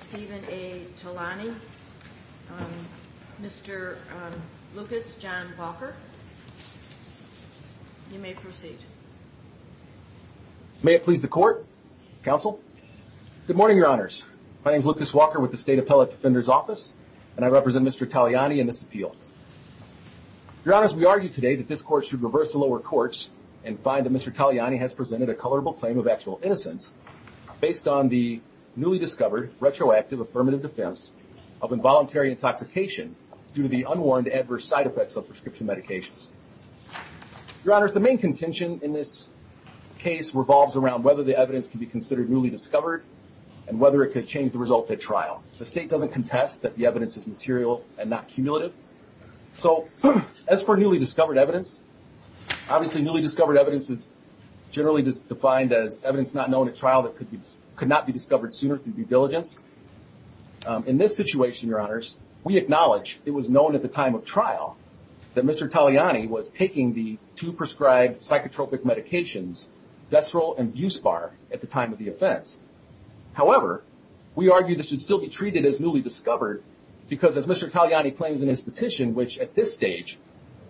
Stephen A. Talani. Mr. Lucas John Walker. You may proceed. May it please the court, counsel. Good morning, your honors. My name is Lucas Walker with the State Appellate Defender's Office and I represent Mr. Taliani in this appeal. Your honors, we argue today that this court should reverse the lower courts and find that Mr. Taliani has presented a colorable claim of actual innocence based on the newly discovered retroactive affirmative defense of involuntary intoxication due to the unwarranted adverse side effects of prescription medications. Your honors, the main contention in this case revolves around whether the evidence can be considered newly discovered and whether it could change the results at trial. The state doesn't contest that the evidence is material and not cumulative. So as for newly discovered evidence, obviously newly discovered evidence is generally defined as evidence not known at trial that could not be discovered sooner through due diligence. In this situation, your honors, we acknowledge it was known at the time of trial that Mr. Taliani was taking the two prescribed psychotropic medications, Deseril and Buspar, at the time of the offense. However, we argue this should still be treated as newly discovered because as Mr. Taliani claims in his petition, which at this stage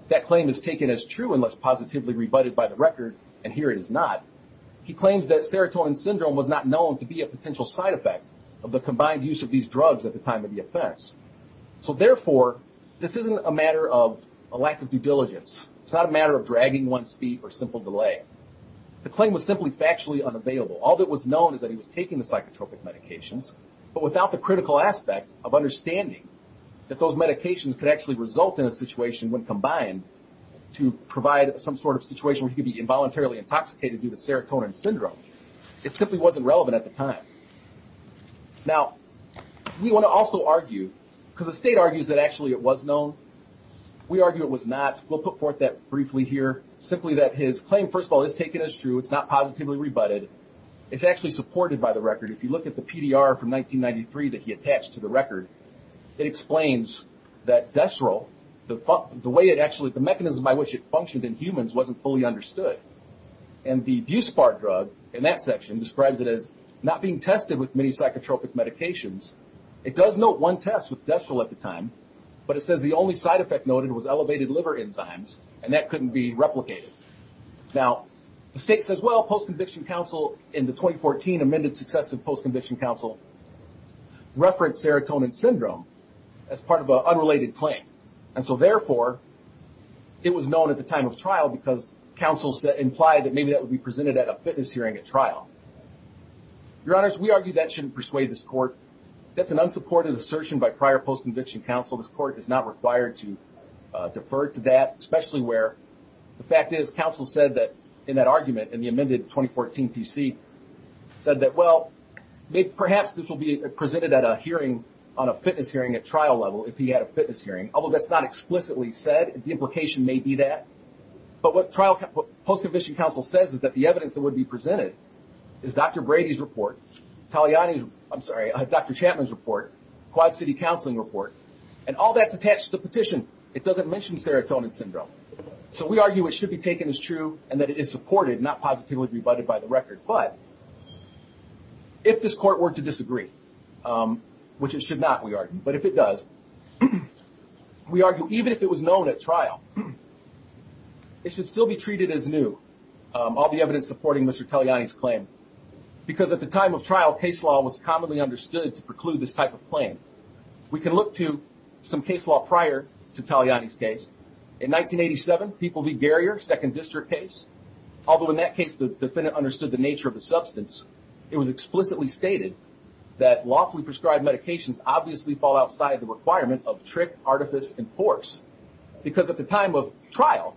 that claim is taken as true unless positively rebutted by the syndrome was not known to be a potential side effect of the combined use of these drugs at the time of the offense. So therefore, this isn't a matter of a lack of due diligence. It's not a matter of dragging one's feet or simple delay. The claim was simply factually unavailable. All that was known is that he was taking the psychotropic medications, but without the critical aspect of understanding that those medications could actually result in a situation when combined to provide some sort of situation where he could be simply wasn't relevant at the time. Now, we want to also argue, because the state argues that actually it was known. We argue it was not. We'll put forth that briefly here. Simply that his claim, first of all, is taken as true. It's not positively rebutted. It's actually supported by the record. If you look at the PDR from 1993 that he attached to the record, it explains that Deseril, the way it actually, the mechanism by which it functioned in humans wasn't fully described. It describes it as not being tested with many psychotropic medications. It does note one test with Deseril at the time, but it says the only side effect noted was elevated liver enzymes, and that couldn't be replicated. Now, the state says, well, post-conviction counsel in the 2014 amended successive post-conviction counsel referenced serotonin syndrome as part of an unrelated claim. Therefore, it was known at the time of trial because counsel implied that maybe that would be the case. Your honors, we argue that shouldn't persuade this court. That's an unsupported assertion by prior post-conviction counsel. This court is not required to defer to that, especially where the fact is counsel said that in that argument in the amended 2014 PC said that, well, maybe perhaps this will be presented at a hearing on a fitness hearing at trial level if he had a fitness hearing. Although that's not explicitly said, the implication may be that. But what trial post-conviction counsel says is that the evidence that would be presented is Dr. Brady's report, Dr. Chapman's report, Quad City Counseling report, and all that's attached to the petition. It doesn't mention serotonin syndrome. So we argue it should be taken as true and that it is supported, not positively rebutted by the record. But if this court were to disagree, which it should not, we argue, but if it does, we argue even if it was Mr. Taliani's claim. Because at the time of trial, case law was commonly understood to preclude this type of claim. We can look to some case law prior to Taliani's case. In 1987, People v. Garrier, second district case, although in that case the defendant understood the nature of the substance, it was explicitly stated that lawfully prescribed medications obviously fall outside the requirement of trick, artifice, and force. Because at the time of trial,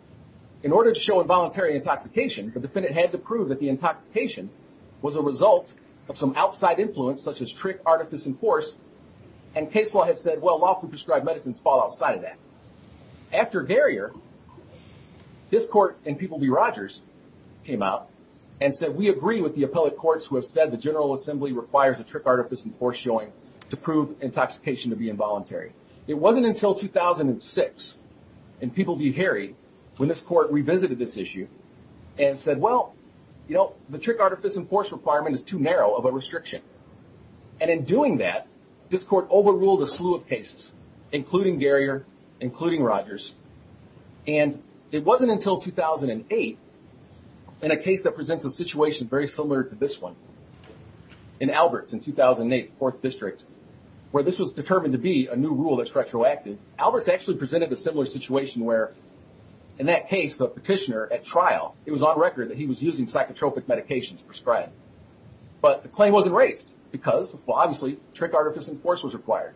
in order to show involuntary intoxication, the defendant had to prove that the intoxication was a result of some outside influence, such as trick, artifice, and force, and case law had said, well, lawfully prescribed medicines fall outside of that. After Garrier, this court and People v. Rogers came out and said, we agree with the appellate courts who have said the General Assembly requires a trick, artifice, and force showing to prove intoxication to be involuntary. It wasn't until 2006 in People v. Harry when this court revisited this issue and said, well, you know, the trick, artifice, and force requirement is too narrow of a restriction. And in doing that, this court overruled a slew of cases, including Garrier, including Rogers. And it wasn't until 2008 in a case that presents a situation very similar to this one, in Alberts in 2008, fourth district, where this was determined to be a new rule that's retroactive, Alberts actually presented a similar situation where, in that case, the petitioner at trial, it was on record that he was using psychotropic medications prescribed. But the claim wasn't raised, because, well, obviously, trick, artifice, and force was required.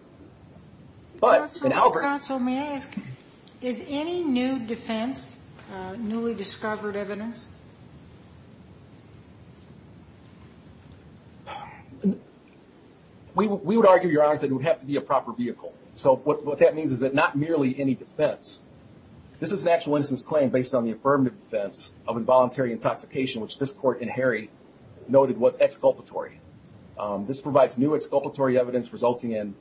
But in Alberts... Counsel, may I ask, is any new defense newly discovered evidence? We would argue, Your Honor, that it would have to be a proper vehicle. So what that means is that not merely any defense. This is an actual innocence claim based on the affirmative defense of involuntary intoxication, which this court in Harry noted was exculpatory. This provides new exculpatory evidence resulting in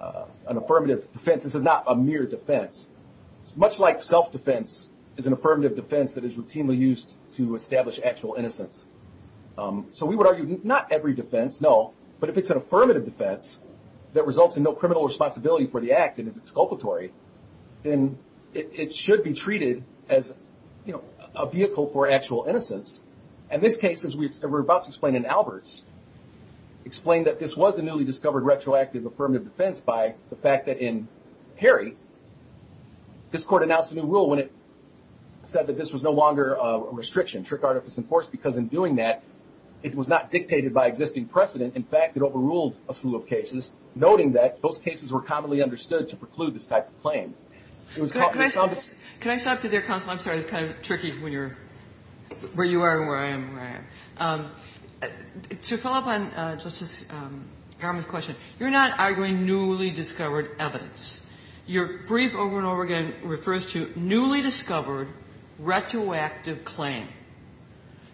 an affirmative defense. This is not a mere defense. It's much like self-defense is an affirmative defense that is routinely used to establish actual innocence. So we would argue not every defense, no, but if it's an affirmative defense that results in no criminal responsibility for the act, and is exculpatory, then it should be treated as a vehicle for actual innocence. And this case, as we were about to explain in Alberts, explained that this was a newly discovered retroactive affirmative defense by the fact that in Harry, this court announced a new rule when it said that this was no longer a restriction, trick, artifice, and force, because in doing that, it was not dictated by existing precedent. In fact, it overruled a slew of cases, noting that those cases were commonly understood to preclude this type of claim. It was called for some of the Can I stop you there, counsel? I'm sorry. It's kind of tricky when you're where you are and where I am and where I am. To follow up on Justice Garment's question, you're not arguing newly discovered evidence. Your brief over and over again refers to newly discovered retroactive claim.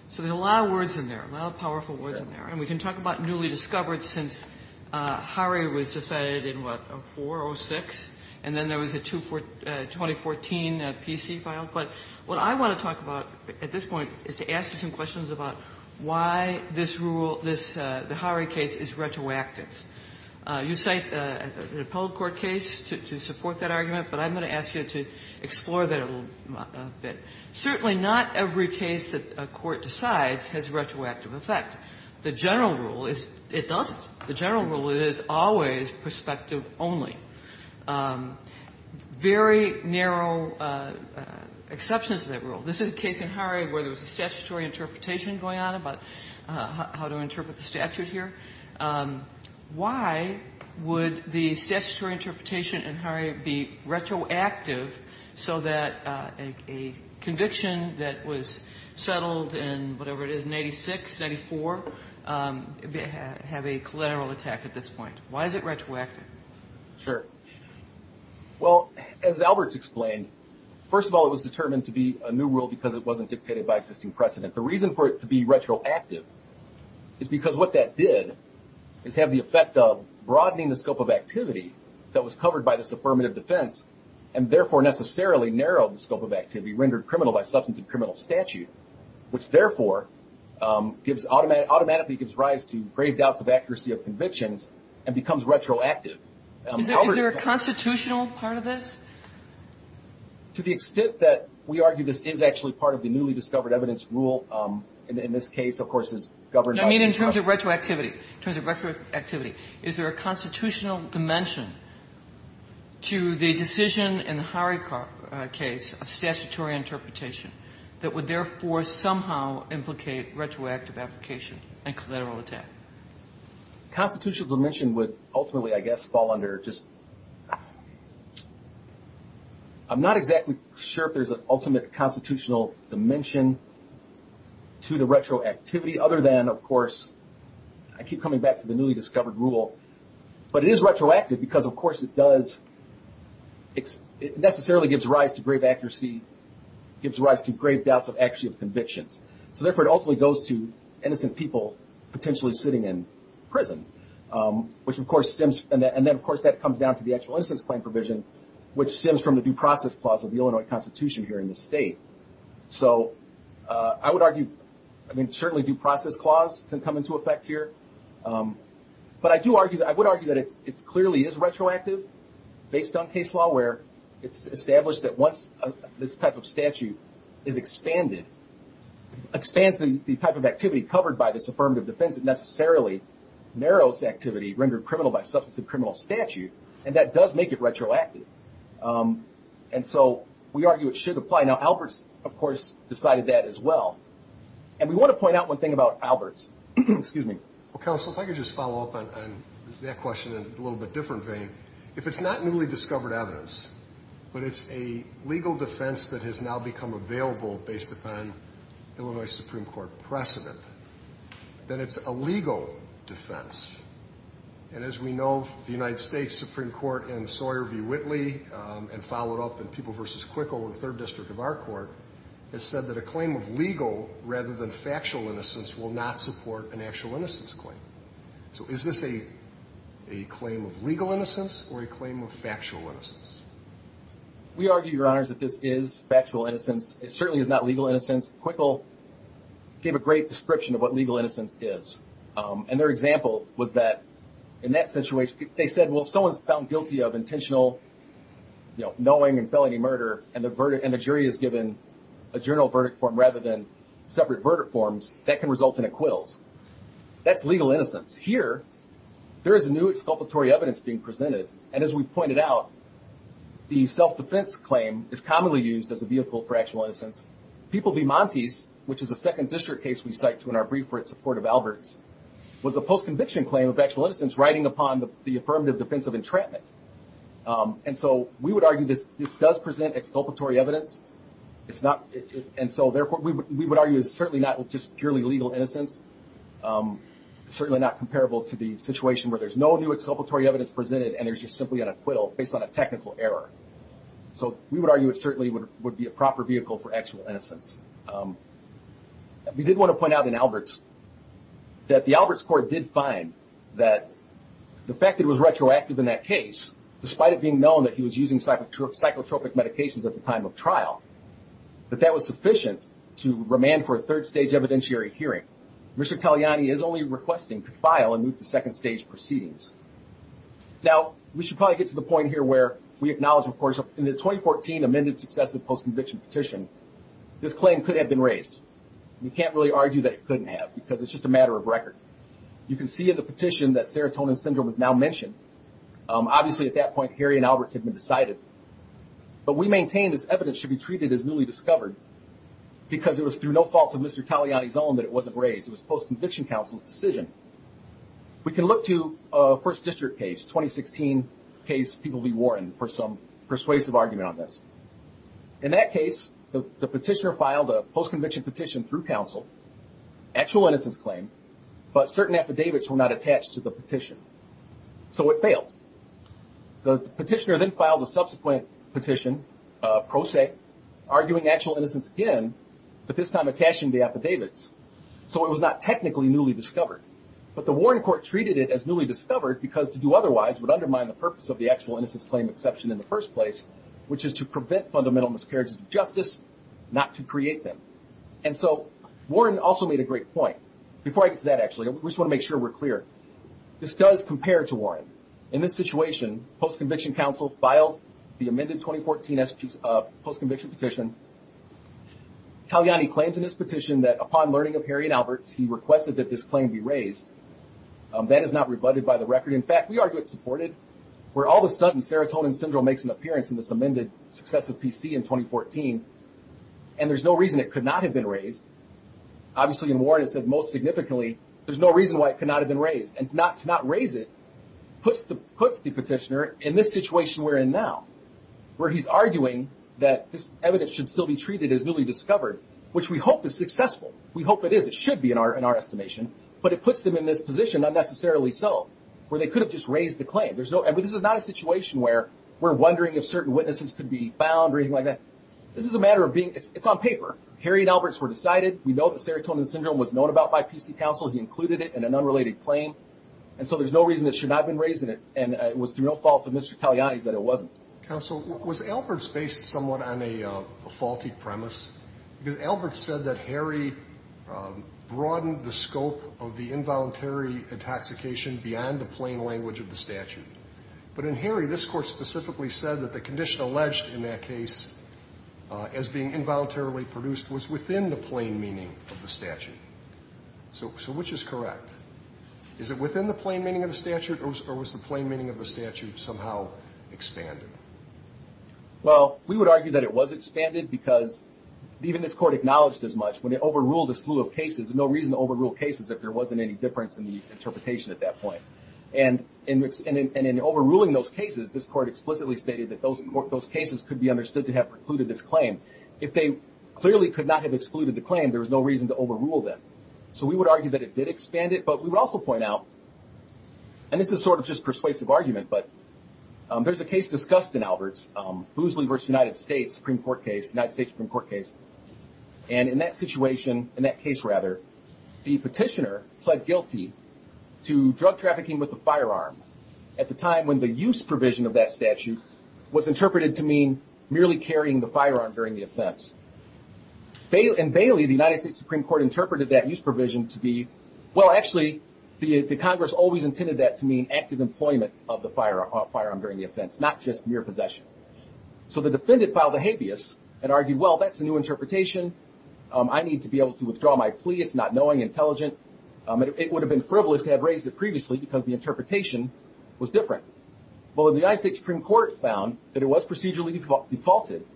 So there are a lot of words in there, a lot of powerful words in there. And we can talk about newly discovered since Harry was decided in, what, 04, 06? And then there was a 2014 P.C. file. But what I want to talk about at this point is to ask you some questions about why this rule, this Harry case, is retroactive. You cite an appellate court case to support that argument, but I'm going to ask you to explore that a little bit. Certainly not every case that a court decides has retroactive effect. The general rule is it doesn't. The general rule is always perspective only. Very narrow exceptions to that rule. This is a case in Harry where there was a statutory interpretation going on about how to interpret the statute here. Why would the statutory interpretation in Harry be retroactive so that a conviction that was settled in, whatever it is, in 86, 94, have a collateral attack at this point? Why is it retroactive? Sure. Well, as Albert's explained, first of all, it was determined to be a new rule because it wasn't dictated by existing precedent. The reason for it to be retroactive is because what that did is have the effect of broadening the scope of activity that was covered by this affirmative defense and therefore necessarily narrowed the scope of activity rendered criminal by substance of criminal statute, which therefore automatically gives rise to grave doubts of accuracy of convictions and becomes retroactive. Is there a constitutional part of this? To the extent that we argue this is actually part of the newly discovered evidence rule, in this case, of course, is governed by the... I mean in terms of retroactivity. In terms of retroactivity. Is there a constitutional dimension to the decision in the Harry case of statutory interpretation that would therefore somehow implicate retroactive application and collateral attack? Constitutional dimension would ultimately, I guess, fall under just... I'm not exactly sure if there's an ultimate constitutional dimension to the retroactivity other than, of course, I keep coming back to the newly discovered rule, but it is retroactive because, of course, it does... It necessarily gives rise to grave accuracy, gives rise to grave doubts of accuracy of convictions, so therefore it ultimately goes to innocent people potentially sitting in prison, which of course stems... And then, of course, that comes down to the actual innocence claim provision, which stems from the due process clause of the Illinois Constitution here in the state. So I would argue, I mean, certainly due process clause can come into effect here, but I do argue... I would argue that it clearly is retroactive based on case law where it's established that once this type of statute is expanded, expands the type of activity covered by this affirmative defense that necessarily narrows activity rendered criminal by substantive criminal statute, and that does make it retroactive. And so we argue it should apply. Now, Alberts, of course, decided that as well. And we want to point out one thing about Alberts. Excuse me. Well, counsel, if I could just follow up on that question in a little bit different vein. If it's not newly discovered evidence, but it's a legal defense that has now become available based upon Illinois Supreme Court precedent, then it's a legal defense. And as we know, the United States Supreme Court in Sawyer v. Whitley, and followed up in People v. Quickle, the third district of our court, has said that a claim of legal rather than factual innocence will not support an actual innocence claim. So is this a claim of legal innocence or a claim of factual innocence? We argue, Your Honors, that this is factual innocence. It certainly is not legal innocence. Quickle gave a great description of what legal innocence is. And their example was that in that situation, they said, well, if someone's found guilty of intentional, you know, knowing and felony murder, and the jury is given a general verdict form rather than separate verdict forms, that can result in acquittals. That's legal innocence. Here, there is a new exculpatory evidence being presented. And as we pointed out, the self-defense claim is commonly used as a vehicle for actual innocence. People v. Montes, which is a second district case we cite in our brief for its support of Alberts, was a post-conviction claim of actual innocence riding upon the affirmative defense of entrapment. And so we would argue this does present exculpatory evidence. And so, therefore, we would argue it's certainly not just purely legal innocence. It's certainly not comparable to the situation where there's no new exculpatory evidence presented and there's just simply an acquittal based on a technical error. So we would argue it certainly would be a proper vehicle for actual innocence. We did want to point out in Alberts that the Alberts court did find that the fact that it was retroactive in that case, despite it being known that he was using psychotropic medications at the time of trial, that that was sufficient to remand for a third stage evidentiary hearing. Mr. Taliani is only requesting to file and move to second stage proceedings. Now, we should probably get to the point here where we acknowledge, of course, in the 2014 amended successive post-conviction petition, this claim could have been raised. We can't really argue that it couldn't have because it's just a matter of record. You can see in the petition that serotonin syndrome is now mentioned. Obviously, at that point, Harry and Alberts had been decided. But we maintain this evidence should be treated as newly discovered because it was through no fault of Mr. Taliani's own that it wasn't raised. It was post-conviction counsel's decision. We can look to a first district case, 2016 case People v. Warren, for some persuasive argument on this. In that case, the petitioner filed a post-conviction petition through counsel, actual innocence claim, but certain affidavits were not attached to the petition. So it was a pro se, arguing actual innocence again, but this time attaching the affidavits. So it was not technically newly discovered. But the Warren court treated it as newly discovered because to do otherwise would undermine the purpose of the actual innocence claim exception in the first place, which is to prevent fundamental miscarriages of justice, not to create them. And so Warren also made a great point. Before I get to that, actually, I just want to make sure we're clear. This does compare to Warren. In this situation, post-conviction counsel filed the amended 2014 post-conviction petition. Taliani claims in his petition that upon learning of Harry and Alberts, he requested that this claim be raised. That is not rebutted by the record. In fact, we argue it's supported, where all of a sudden serotonin syndrome makes an appearance in this amended successive PC in 2014, and there's no reason it could not have been raised. Obviously, in Warren, it said most significantly, there's no reason why it could not have been raised. And to not raise it puts the situation we're in now, where he's arguing that this evidence should still be treated as newly discovered, which we hope is successful. We hope it is. It should be, in our estimation. But it puts them in this position, not necessarily so, where they could have just raised the claim. There's no, and this is not a situation where we're wondering if certain witnesses could be found or anything like that. This is a matter of being, it's on paper. Harry and Alberts were decided. We know that serotonin syndrome was known about by PC counsel. He included it in an unrelated claim. And so there's no reason it should not have been raised in it. And it was through no fault of Mr. Taliani's that it wasn't. Counsel, was Alberts based somewhat on a faulty premise? Because Alberts said that Harry broadened the scope of the involuntary intoxication beyond the plain language of the statute. But in Harry, this court specifically said that the condition alleged in that case as being involuntarily produced was within the plain meaning of the statute. So, so which is correct? Is it within the plain meaning of the statute or was the plain meaning of the statute somehow expanded? Well, we would argue that it was expanded because even this court acknowledged as much. When it overruled a slew of cases, there's no reason to overrule cases if there wasn't any difference in the interpretation at that point. And in overruling those cases, this court explicitly stated that those cases could be understood to have precluded this claim. If they clearly could not have excluded the claim, there was no reason to overrule them. So we would argue that it did expand it, but we would also point out, and this is sort of just persuasive argument, but there's a case discussed in Alberts, Boosley versus United States Supreme Court case, United States Supreme Court case. And in that situation, in that case rather, the petitioner pled guilty to drug trafficking with a firearm at the time when the use provision of that statute was interpreted to mean merely carrying the firearm during the offense. In Bailey, the United States Supreme Court interpreted that use provision to be, well, actually, the Congress always intended that to mean active employment of the firearm during the offense, not just mere possession. So the defendant filed a habeas and argued, well, that's a new interpretation. I need to be able to withdraw my plea. It's not knowing, intelligent. It would have been frivolous to have raised it previously because the interpretation was different. Well, the United States Supreme Court found that it was procedurally defaulted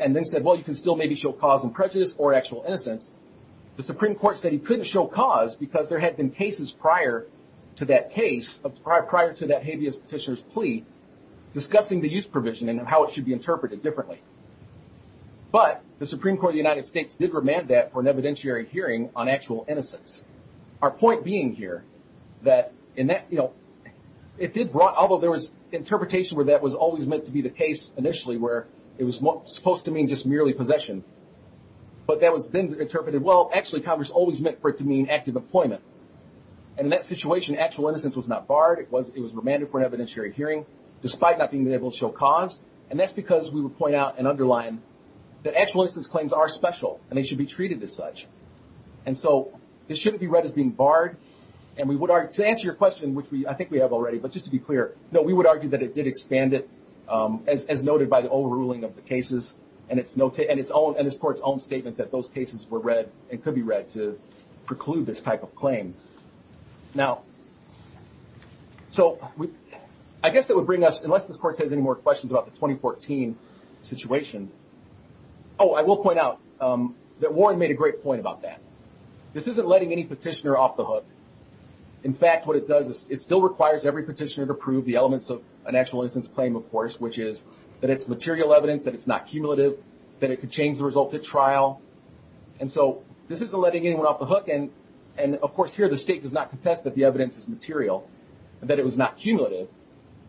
and then said, well, you can still maybe show cause and prejudice or actual innocence. The Supreme Court said he couldn't show cause because there had been cases prior to that case, prior to that habeas petitioner's plea, discussing the use provision and how it should be interpreted differently. But the Supreme Court of the United States did remand that for an evidentiary hearing on actual innocence. Our point being here that in that, you know, it did brought, although there was interpretation where that was always meant to be the case initially, where it was supposed to mean just merely possession, but that was then interpreted, well, actually Congress always meant for it to mean active employment. And in that situation, actual innocence was not barred. It was, it was remanded for an evidentiary hearing despite not being able to show cause. And that's because we would point out and underline that actual innocence claims are special and they should be treated as such. And so it shouldn't be read as being barred. And we would argue to answer your question, which we, I think we have already, but just to be clear, no, we would argue that it did expand it as, as noted by the old ruling of the cases and it's notated and it's all in this court's own statement that those cases were read and could be read to preclude this type of claim. Now, so I guess that would bring us, unless this court has any more questions about the 2014 situation. Oh, I will point out that Warren made a great point about that. This isn't letting any petitioner off the hook. In fact, what it does is it still requires every petitioner to prove the elements of an actual innocence claim, of course, which is that it's material evidence, that it's not cumulative, that it could change the results at trial. And so this isn't letting anyone off the hook. And, and of course here, the state does not contest that the evidence is material and that it was not cumulative,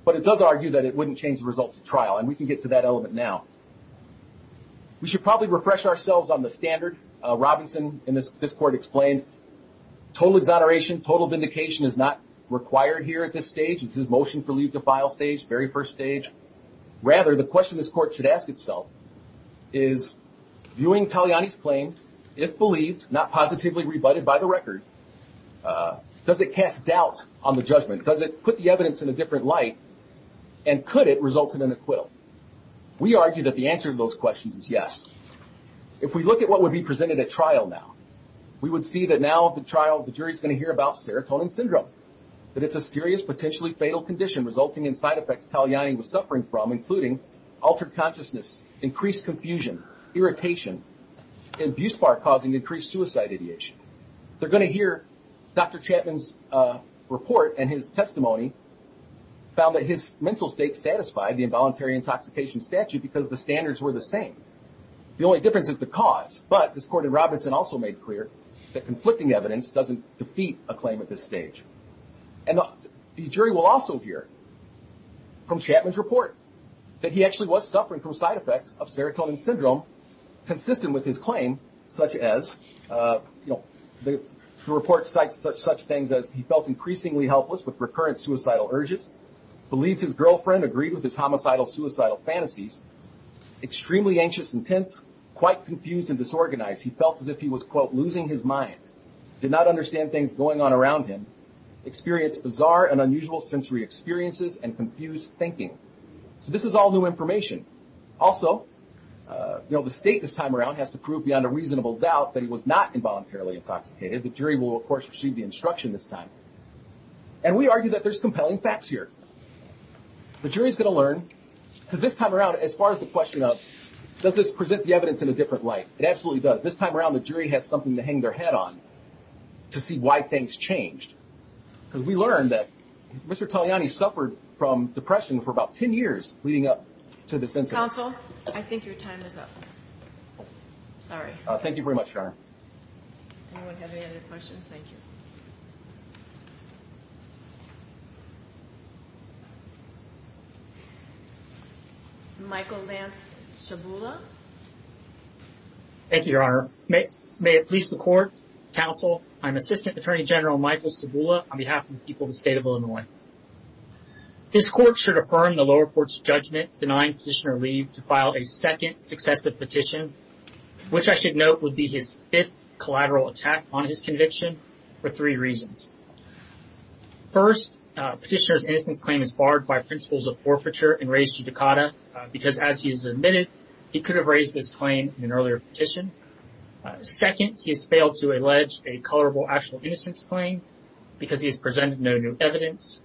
but it does argue that it wouldn't change the results of trial. And we can get to that element now. We should probably refresh ourselves on the standard. Robinson in this court explained total exoneration, total vindication is not required here at this stage. It's his motion for leave to file stage, very first stage. Rather, the question this court should ask itself is viewing Taliani's claim, if believed, not positively rebutted by the record, does it cast doubt on the judgment? Does it put the evidence in a different light? And could it result in an acquittal? We argue that the answer to those questions is yes. If we look at what would be the first thing we're going to hear about serotonin syndrome, that it's a serious, potentially fatal condition resulting in side effects Taliani was suffering from, including altered consciousness, increased confusion, irritation, and abuse bar causing increased suicide ideation. They're going to hear Dr. Chapman's report and his testimony found that his mental state satisfied the involuntary intoxication statute because the standards were the same. The only difference is the cause. But this court in Robinson also made clear that conflicting evidence doesn't defeat a claim at this stage. And the jury will also hear from Chapman's report that he actually was suffering from side effects of serotonin syndrome consistent with his claim, such as, you know, the report cites such things as he felt increasingly helpless with recurrent suicidal urges, believes his girlfriend agreed with his homicidal suicidal fantasies, extremely anxious and tense, quite confused and losing his mind, did not understand things going on around him, experienced bizarre and unusual sensory experiences and confused thinking. So this is all new information. Also, you know, the state this time around has to prove beyond a reasonable doubt that he was not involuntarily intoxicated. The jury will, of course, receive the instruction this time. And we argue that there's compelling facts here. The jury is going to learn, because this time around, as far as the question of does this present the evidence in a different light, it to hang their head on to see why things changed. Because we learned that Mr. Togliani suffered from depression for about 10 years leading up to this incident. Counsel, I think your time is up. Sorry. Thank you very much, Your Honor. Anyone have any other questions? Thank you. Michael Lance Sabula. Thank you, Your Honor. May it please the Court, Counsel, I'm Assistant Attorney General Michael Sabula on behalf of the people of the state of Illinois. This court should affirm the lower court's judgment denying petitioner leave to file a second successive petition, which I should note would be his fifth collateral attack on his conviction for three reasons. First, petitioner's innocence claim is barred by principles of forfeiture and raised judicata because, as he has admitted, he could have raised this claim in an earlier petition. Second, he has failed to allege a colorable actual innocence claim because he has presented no new evidence.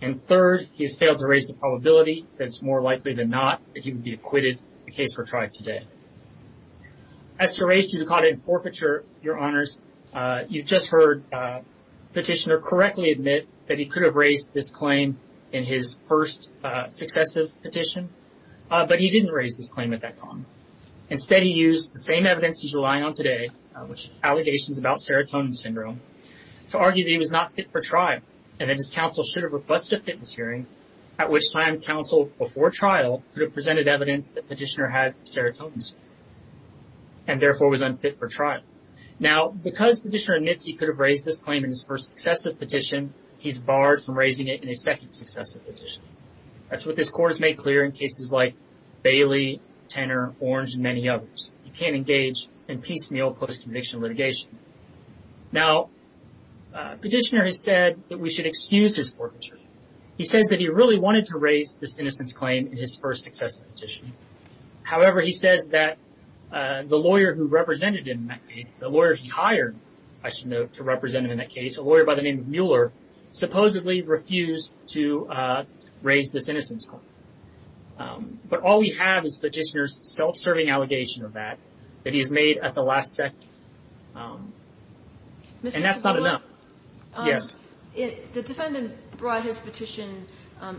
And third, he has failed to raise the probability that it's more likely than not that he would be acquitted if the case were tried today. As to raise judicata in forfeiture, Your Honors, you've just heard petitioner correctly admit that he could have raised this claim in his first successive petition, but he didn't raise this claim at that time. Instead, he used the same evidence he's relying on today, which is allegations about serotonin syndrome, to argue that he was not fit for trial and that his counsel should have requested a fitness hearing, at which time counsel before trial could have presented evidence that petitioner had serotonin syndrome and therefore was unfit for trial. Now, because petitioner admits he could have raised this claim in his first successive petition, he's barred from raising it in a second successive petition. That's what this court has made clear in cases like Bailey, Tenor, Orange, and many others. He can't engage in piecemeal post-conviction litigation. Now, petitioner has said that we should excuse his forfeiture. He says that he really wanted to raise this innocence claim in his first successive petition. However, he says that the lawyer who represented him in that case, the lawyer he hired, I should note, to represent him in that case, a lawyer by the name of Mueller, supposedly refused to raise this innocence claim. But all we have is petitioner's self-serving allegation of that, that he's made at the last second. And that's not enough. Yes. The defendant brought his petition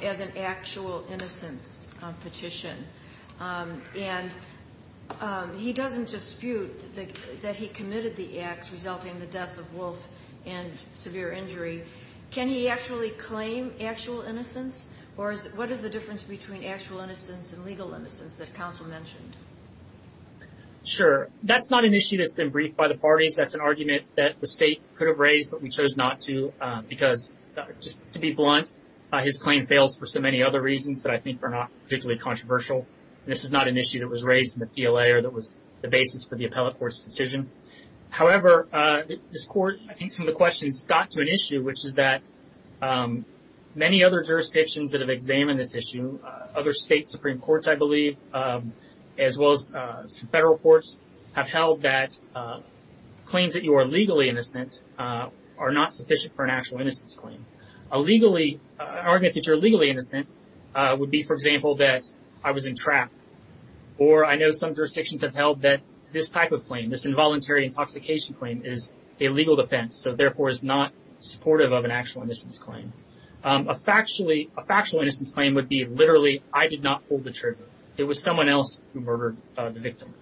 as an actual innocence petition. And he doesn't dispute that he committed the acts resulting in the death of Wolf and severe injury. Can he actually claim actual innocence? Or what is the difference between actual innocence and legal innocence that counsel mentioned? Sure. That's not an issue that's been briefed by the parties. That's an argument that the state could have raised, but we chose not to because, just to be blunt, his claim fails for so many other reasons that I think are not particularly controversial. This is not an issue that was raised in the PLA or that was the basis for the appellate court's decision. However, this court, I think some of the questions got to an issue, which is that many other jurisdictions that have as well as some federal courts have held that claims that you are legally innocent are not sufficient for an actual innocence claim. A legally, an argument that you're legally innocent would be, for example, that I was in trap. Or I know some jurisdictions have held that this type of claim, this involuntary intoxication claim, is a legal defense, so therefore is not supportive of an actual innocence claim. A factually, a factual innocence claim would be, literally, I did not hold the trigger. It was someone else who murdered the victim.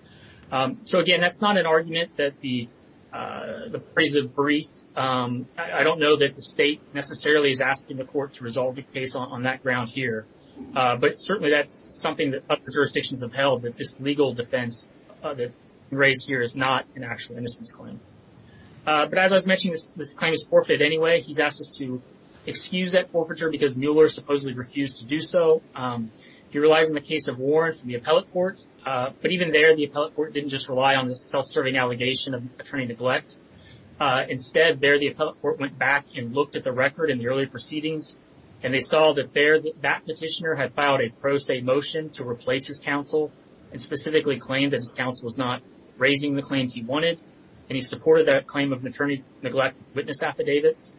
So again, that's not an argument that the parties have briefed. I don't know that the state necessarily is asking the court to resolve the case on that ground here, but certainly that's something that other jurisdictions have held, that this legal defense that was raised here is not an actual innocence claim. But as I was mentioning, this claim is forfeited anyway. He's asked us to excuse that forfeiture because Mueller supposedly refused to do so. He relies on the case of Warren from the Appellate Court, but even there the Appellate Court didn't just rely on this self-serving allegation of attorney neglect. Instead, there the Appellate Court went back and looked at the record in the early proceedings, and they saw that there that petitioner had filed a pro se motion to replace his counsel, and specifically claimed that his counsel was not raising the claims he wanted, and he supported that claim of an attorney neglect witness affidavits.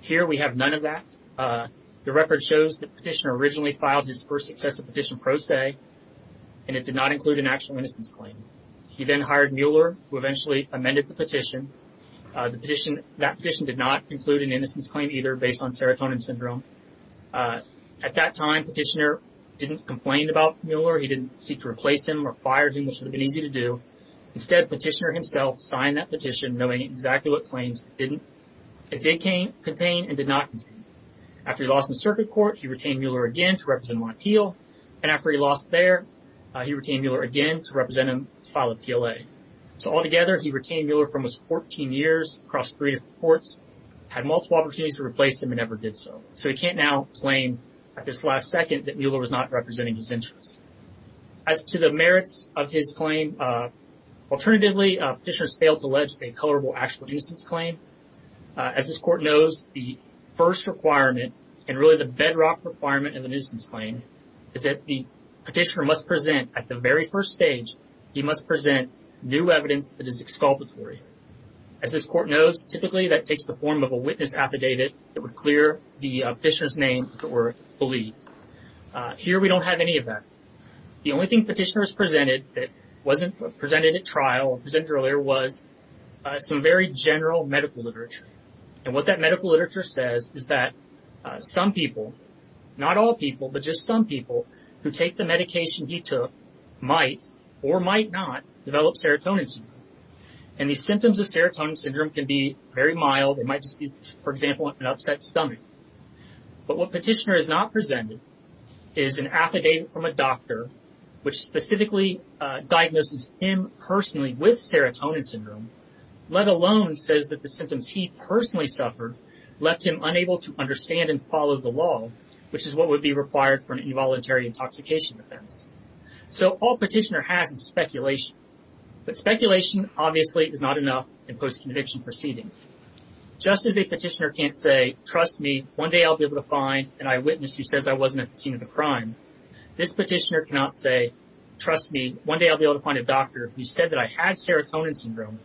Here we have none of that. The record shows that petitioner originally filed his first successive petition pro se, and it did not include an actual innocence claim. He then hired Mueller, who eventually amended the petition. That petition did not include an innocence claim either, based on serotonin syndrome. At that time, petitioner didn't complain about Mueller. He didn't seek to replace him or fire him, which would have been easy to do. Instead, petitioner himself signed that petition knowing exactly what claims it didn't contain and did not contain. After he lost in circuit court, he retained Mueller again to represent him on appeal, and after he lost there, he retained Mueller again to represent him to file a PLA. So altogether, he retained Mueller for almost 14 years, crossed three different courts, had multiple opportunities to replace him, and never did so. So he can't now claim at this last second that Mueller was not representing his interests. As to the merits of his failed to allege a colorable actual innocence claim, as this court knows, the first requirement, and really the bedrock requirement in the innocence claim, is that the petitioner must present, at the very first stage, he must present new evidence that is exculpatory. As this court knows, typically that takes the form of a witness affidavit that would clear the petitioner's name or belief. Here, we don't have any of that. The only thing petitioners presented that wasn't is some very general medical literature. And what that medical literature says is that some people, not all people, but just some people, who take the medication he took might or might not develop serotonin syndrome. And the symptoms of serotonin syndrome can be very mild. It might just be, for example, an upset stomach. But what petitioner has not presented is an affidavit from a doctor which specifically diagnoses him personally with serotonin syndrome, let alone says that the symptoms he personally suffered left him unable to understand and follow the law, which is what would be required for an involuntary intoxication offense. So all petitioner has is speculation. But speculation, obviously, is not enough in post-conviction proceeding. Just as a petitioner can't say, trust me, one day I'll be able to find an eyewitness who can't say, trust me, one day I'll be able to find a doctor who said that I had serotonin syndrome,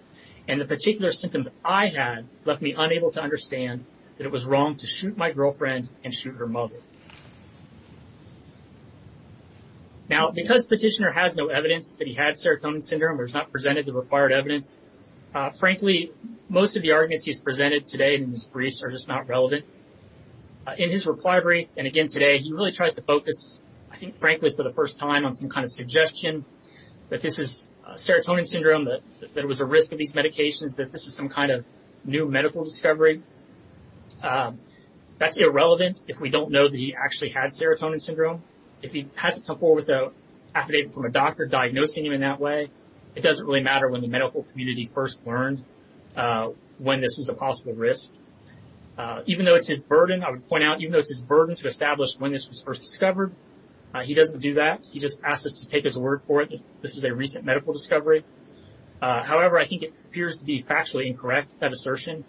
and the particular symptoms I had left me unable to understand that it was wrong to shoot my girlfriend and shoot her mother. Now, because petitioner has no evidence that he had serotonin syndrome or has not presented the required evidence, frankly, most of the arguments he's presented today in his briefs are just not relevant. In his required brief, and again today, he really tries to focus, I think frankly for the first time, on some kind of suggestion that this is serotonin syndrome, that there was a risk of these medications, that this is some kind of new medical discovery. That's irrelevant if we don't know that he actually had serotonin syndrome. If he hasn't come forward with an affidavit from a doctor diagnosing him in that way, it doesn't really matter when the medical community first learned when this was a possible risk. Even though it's his burden, I would point out, even though it's his burden to establish when this was first discovered, he doesn't do that. He just asks us to take his word for it that this is a recent medical discovery. However, I think it appears to be factually incorrect, that assertion.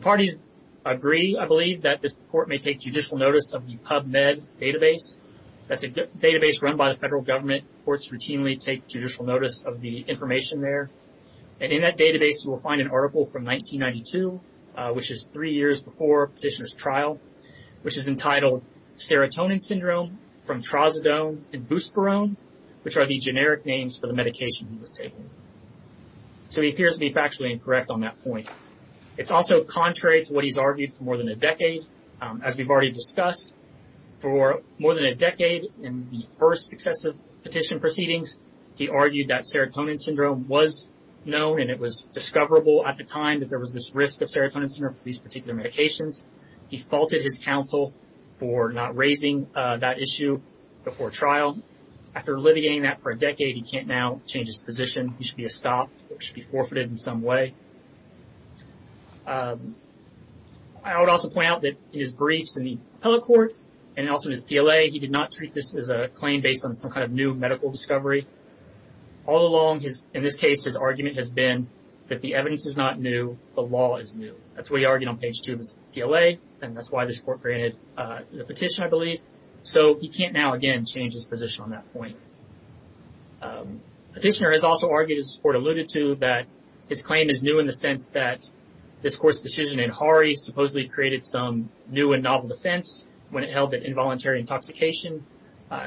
Parties agree, I believe, that this court may take judicial notice of the PubMed database. That's a database run by the federal government. Courts routinely take judicial notice of the information there, and in that database you will find an article from 1992, which is three years before petitioner's trial, which is entitled, Serotonin Syndrome from Trazodone and Buspirone, which are the generic names for the medication he was taking. So he appears to be factually incorrect on that point. It's also contrary to what he's argued for more than a decade. As we've already discussed, for more than a decade in the first successive petition proceedings, he argued that serotonin syndrome was known and it was discoverable at the time that there was this risk of serotonin syndrome for these particular medications. He faulted his counsel for not raising that issue before trial. After litigating that for a decade, he can't now change his position. He should be stopped or should be forfeited in some way. I would also point out that in his briefs in the appellate court and also his PLA, he did not treat this as a claim based on some kind of new medical discovery. All along, in this case, his argument has been that the evidence is not new, the law is new. That's what he argued on page two of his PLA, and that's why this court granted the petition, I believe. So he can't now, again, change his position on that point. Petitioner has also argued, as this court alluded to, that his claim is new in the sense that this court's decision in Harre supposedly created some new and novel defense when it held that involuntary intoxication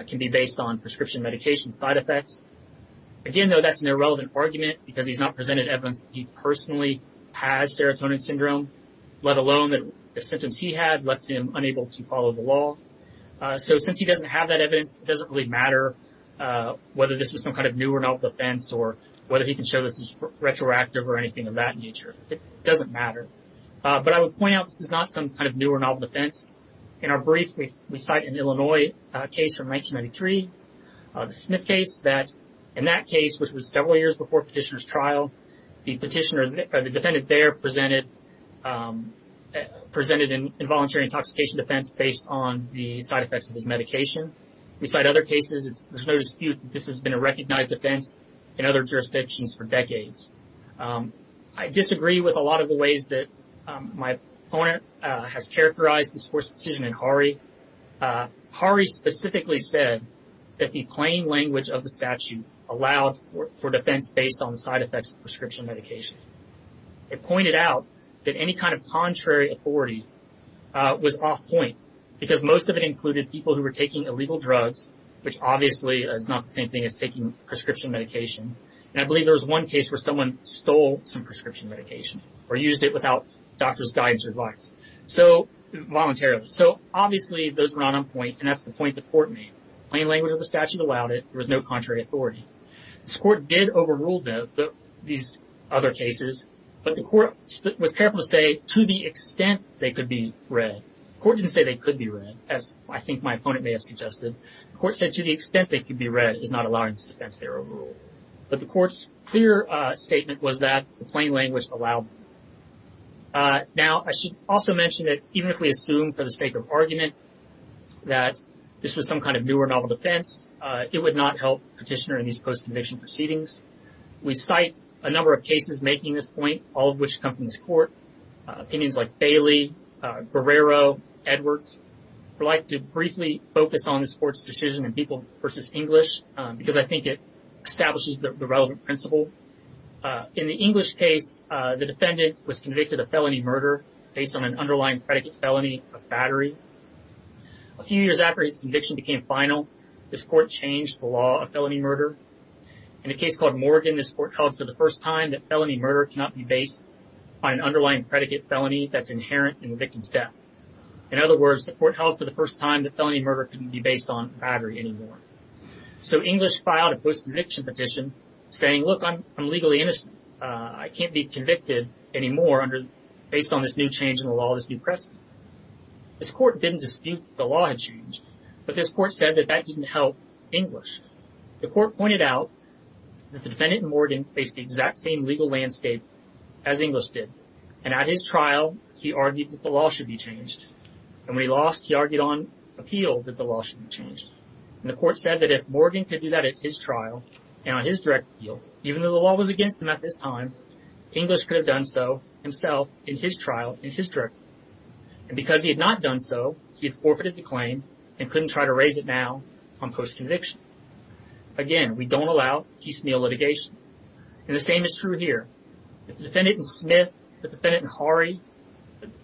can be based on prescription medication side effects. Again, though, that's an irrelevant argument because he's not serotonin syndrome, let alone that the symptoms he had left him unable to follow the law. So since he doesn't have that evidence, it doesn't really matter whether this was some kind of new or novel defense or whether he can show this is retroactive or anything of that nature. It doesn't matter. But I would point out this is not some kind of new or novel defense. In our brief, we cite an Illinois case from 1993, the Smith case, that in that case, which was several years before petitioner's trial, the defendant there presented an involuntary intoxication defense based on the side effects of his medication. We cite other cases. There's no dispute this has been a recognized defense in other jurisdictions for decades. I disagree with a lot of the ways that my opponent has characterized this court's decision in Harre. Harre specifically said that the defense was based on the side effects of prescription medication. It pointed out that any kind of contrary authority was off point because most of it included people who were taking illegal drugs, which obviously is not the same thing as taking prescription medication. And I believe there was one case where someone stole some prescription medication or used it without doctor's guidance or advice, voluntarily. So obviously, those were not on point, and that's the point the court made. Plain language of the statute allowed it. There was no contrary authority. This court did overrule these other cases, but the court was careful to say to the extent they could be read. The court didn't say they could be read, as I think my opponent may have suggested. The court said to the extent they could be read is not allowing this defense there overrule. But the court's clear statement was that the plain language allowed. Now, I should also mention that even if we assume for the sake of argument that this was some kind of newer novel defense, it would not help petitioner in these post-conviction proceedings. We cite a number of cases making this point, all of which come from this court. Opinions like Bailey, Guerrero, Edwards. I'd like to briefly focus on this court's decision in People v. English because I think it establishes the relevant principle. In the English case, the defendant was convicted of felony murder based on an underlying predicate felony of battery. A few years after his conviction became final, this court changed the law of felony murder. In a case called Morgan, this court held for the first time that felony murder cannot be based on an underlying predicate felony that's inherent in the victim's death. In other words, the court held for the first time that felony murder couldn't be based on battery anymore. So English filed a post- conviction petition saying, look, I'm legally innocent. I can't be convicted anymore based on this new change in the law, this new precedent. This court didn't dispute the law had changed, but this court said that that didn't help English. The court pointed out that the defendant in Morgan faced the exact same legal landscape as English did, and at his trial, he argued that the law should be changed. And when he lost, he argued on appeal that the law should be changed. And the court said that if Morgan could do that at his trial and on his direct appeal, even though the law was against him at this time, English could have done so himself in his trial, in his direct appeal. And because he had not done so, he had forfeited the claim and couldn't try to raise it now on post-conviction. Again, we don't allow decennial litigation. And the same is true here. If the defendant in Smith, the defendant in Horry,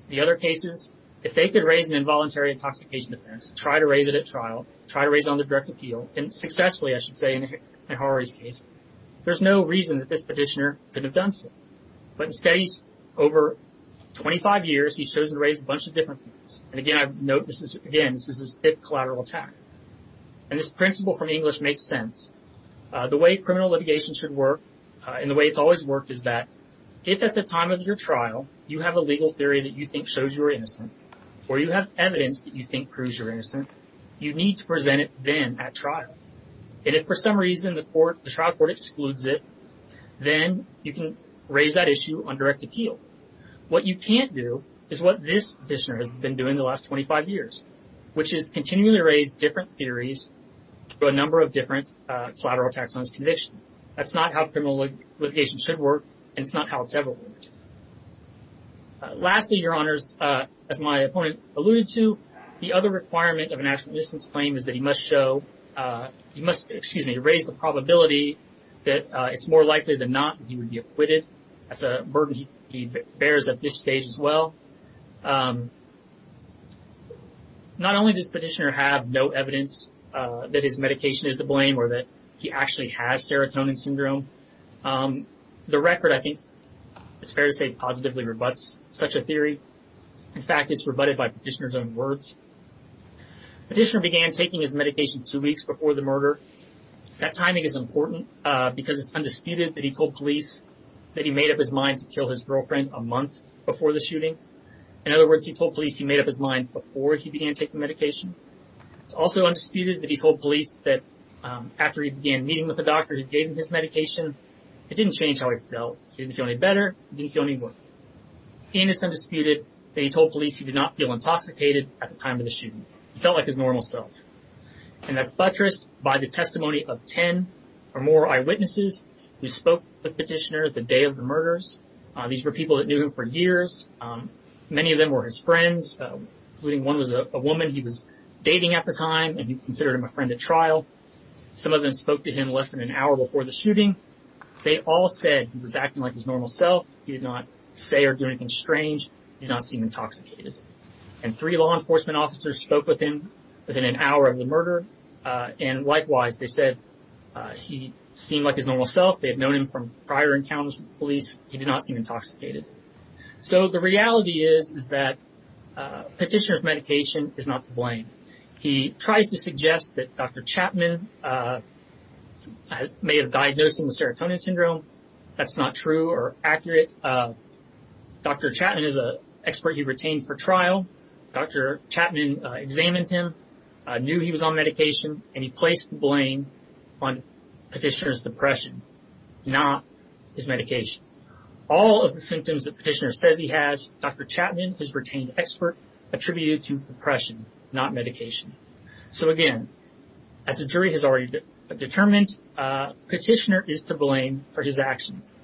the other cases, if they could raise an involuntary intoxication defense, try to raise it at trial, try to raise it on the direct appeal, and successfully I should say in Horry's case, there's no reason that this petitioner could have done so. But instead, over 25 years, he's chosen to raise a bunch of different things. And again, I note this is, again, this is his fifth collateral attack. And this principle from English makes sense. The way criminal litigation should work, and the way it's always worked, is that if at the time of your trial, you have a legal theory that you think shows you're innocent, or you have evidence that you think proves you're innocent, you need to present it then at trial. And if for some reason the court, the trial court excludes it, then you can raise that issue on direct appeal. What you can't do is what this petitioner has been doing the last 25 years, which is continually raise different theories for a number of different collateral attacks on his conviction. That's not how criminal litigation should work, and it's not how it's ever worked. Lastly, Your Honors, as my opponent alluded to, the other requirement of a national distance claim is that he must show, he must, excuse me, raise the probability that it's more likely than not he would be acquitted. That's a burden he bears at this stage as well. Not only does petitioner have no evidence that his medication is to blame, or that he actually has serotonin syndrome, the record, I think it's fair to say, positively rebuts such a theory. In fact, it's rebutted by petitioner's own words. Petitioner began taking his That timing is important because it's undisputed that he told police that he made up his mind to kill his girlfriend a month before the shooting. In other words, he told police he made up his mind before he began taking medication. It's also undisputed that he told police that after he began meeting with the doctor who gave him his medication, it didn't change how he felt. He didn't feel any better, he didn't feel any worse. And it's undisputed that he told police he did not feel intoxicated at the time of the shooting. He felt like his normal self. And that's by the testimony of 10 or more eyewitnesses who spoke with petitioner the day of the murders. These were people that knew him for years. Many of them were his friends, including one was a woman he was dating at the time, and he considered him a friend at trial. Some of them spoke to him less than an hour before the shooting. They all said he was acting like his normal self. He did not say or do anything strange, did not seem intoxicated. And three law enforcement officers spoke with him within an hour of the murder. And likewise, they said he seemed like his normal self. They had known him from prior encounters with police. He did not seem intoxicated. So the reality is, is that petitioner's medication is not to blame. He tries to suggest that Dr. Chapman may have diagnosed him with serotonin syndrome. That's not true or accurate. Dr. Chapman is a expert he retained for trial. Dr. Chapman examined him, knew he was on medication, and he placed the blame on petitioner's depression, not his medication. All of the symptoms that petitioner says he has, Dr. Chapman is retained expert attributed to depression, not medication. So again, as the jury has already determined, petitioner is to blame for his actions.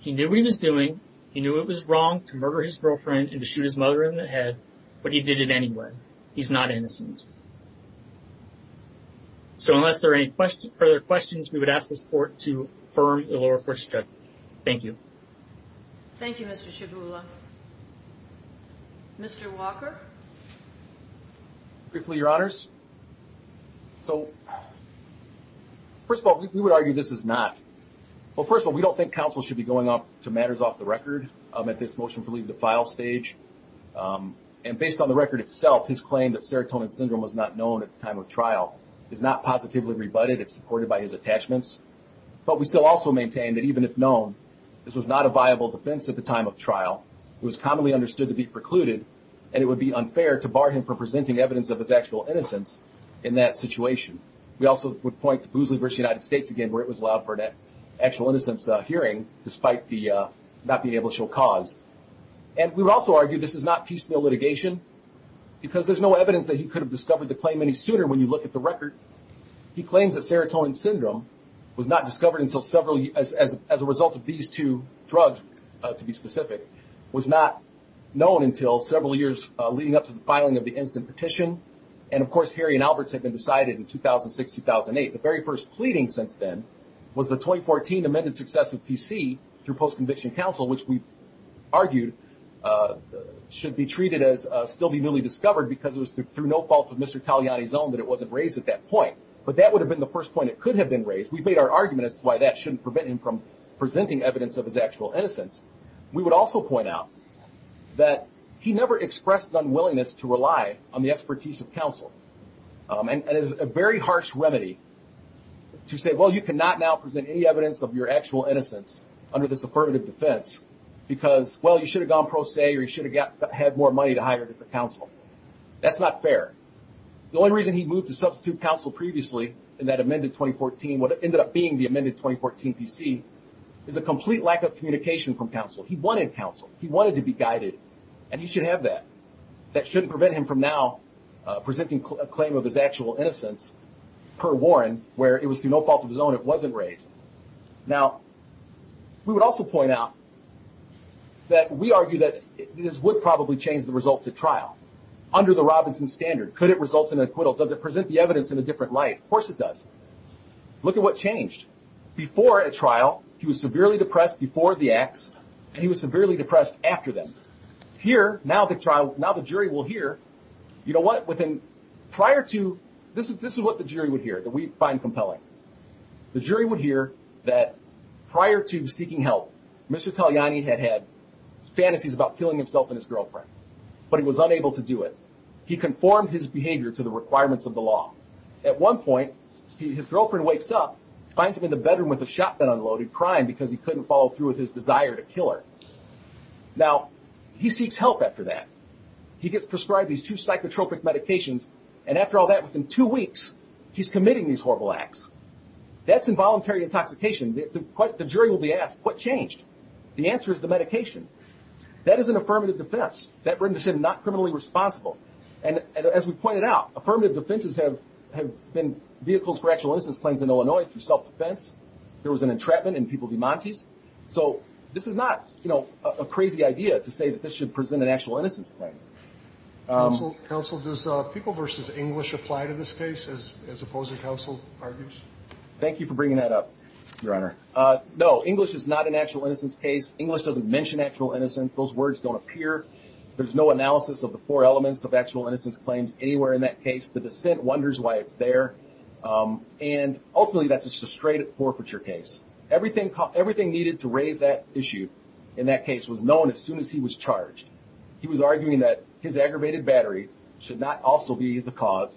He knew what he was doing. He knew it was wrong to murder his girlfriend and to shoot his mother in the head. But he did it anyway. He's not innocent. So unless there are any further questions, we would ask the court to affirm the lower court's judgment. Thank you. Thank you, Mr. Shibula. Mr. Walker? Briefly, Your Honors. So, first of all, we would argue this is not. Well, first of all, we don't think counsel should be going up to matters off the record at this motion for leave the file stage. And based on the record itself, his claim that serotonin syndrome was not known at the time of trial is not positively rebutted. It's supported by his attachments. But we still also maintain that even if known, this was not a viable defense at the time of trial. It was commonly understood to be precluded, and it would be unfair to bar him from presenting evidence of his actual innocence in that situation. We also would point to Boosley v. United States again, where it was allowed for that actual innocence hearing, despite the not being able to show cause. And we would also argue this is not piecemeal litigation, because there's no evidence that he could have discovered the claim any sooner when you look at the record. He claims that serotonin syndrome was not discovered until several years, as a result of these two drugs, to be specific, was not known until several years leading up to the filing of the innocent petition. And of course, Harry and Alberts had been decided in 2006-2008. The very first pleading since then was the 2014 amended success of PC through post-conviction counsel, which we argued should be treated as still be newly discovered because it was through no fault of Mr. Taliani's own that it wasn't raised at that point. But that would have been the first point it could have been raised. We've made our argument as to why that shouldn't prevent him from presenting evidence of his actual innocence. We would also point out that he never expressed unwillingness to rely on the expertise of counsel. And it is a very harsh remedy to say, well, you cannot now present any evidence of your actual innocence under this affirmative defense because, well, you should have gone pro se or you should have had more money to hire counsel. That's not fair. The only reason he moved to substitute counsel previously in that amended 2014, what ended up being the amended 2014 PC, is a complete lack of communication from counsel. He wanted counsel. He wanted to be guided. And he should have that. That shouldn't prevent him from now presenting a claim of his actual innocence per Warren, where it was through no fault of his own it wasn't raised. Now, we would also point out that we argue that this would probably change the results at trial under the Robinson standard. Could it result in an acquittal? Does it present the evidence in a different light? Of course it does. Look at what changed. Before a trial, he was severely depressed before the acts and he was severely depressed after them. Here, now the trial, now the this is what the jury would hear that we find compelling. The jury would hear that prior to seeking help, Mr. Taliani had had fantasies about killing himself and his girlfriend, but he was unable to do it. He conformed his behavior to the requirements of the law. At one point, his girlfriend wakes up, finds him in the bedroom with a shotgun unloaded, crying because he couldn't follow through with his desire to kill her. Now, he seeks help after that. He gets prescribed these two psychotropic medications, and after all that, within two weeks, he's committing these horrible acts. That's involuntary intoxication. The jury will be asked, what changed? The answer is the medication. That is an affirmative defense. That renders him not criminally responsible. As we pointed out, affirmative defenses have been vehicles for actual innocence claims in Illinois through self-defense. There was an entrapment in People v. Montes. This is not a crazy idea to say that this should present an actual innocence claim. Counsel, does People v. English apply to this case, as opposing counsel argues? Thank you for bringing that up, Your Honor. No, English is not an actual innocence case. English doesn't mention actual innocence. Those words don't appear. There's no analysis of the four elements of actual innocence claims anywhere in that case. The dissent wonders why it's there. And ultimately, that's a sustrated forfeiture case. Everything needed to raise that issue in that case was known as soon as he was charged. He was arguing that his aggravated battery should not also be the cause.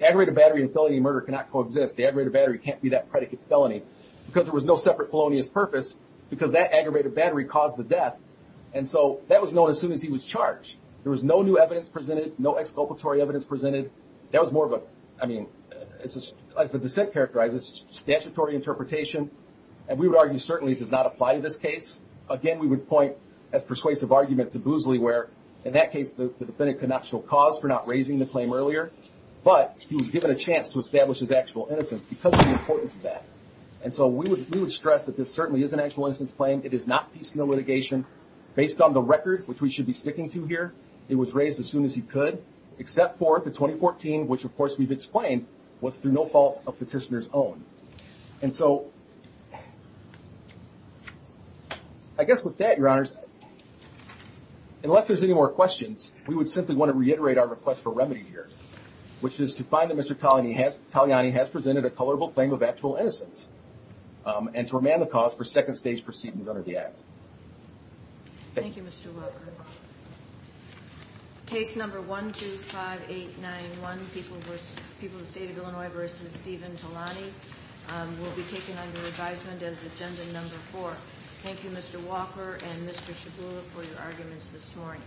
Aggravated battery in a felony murder cannot coexist. The aggravated battery can't be that predicate felony because there was no separate felonious purpose because that aggravated battery caused the death. And so that was known as soon as he was charged. There was no new evidence presented, no exculpatory evidence presented. That was more of a, I mean, as the dissent characterizes, statutory interpretation. And we would in this case, again, we would point as persuasive argument to Boosley where in that case, the defendant could not show cause for not raising the claim earlier, but he was given a chance to establish his actual innocence because of the importance of that. And so we would stress that this certainly is an actual innocence claim. It is not piecemeal litigation. Based on the record, which we should be sticking to here, it was raised as soon as he could, except for the 2014, which of course we've explained was through no fault of petitioner's And so I guess with that, your honors, unless there's any more questions, we would simply want to reiterate our request for remedy here, which is to find that Mr. Togliani has presented a colorable claim of actual innocence and to remand the cause for second stage proceedings under the act. Thank you, Mr. Walker. Case number 125891, People of the State of Illinois v. Stephen Togliani will be taken under advisement as agenda number four. Thank you, Mr. Walker and Mr. Shabula for your arguments this morning.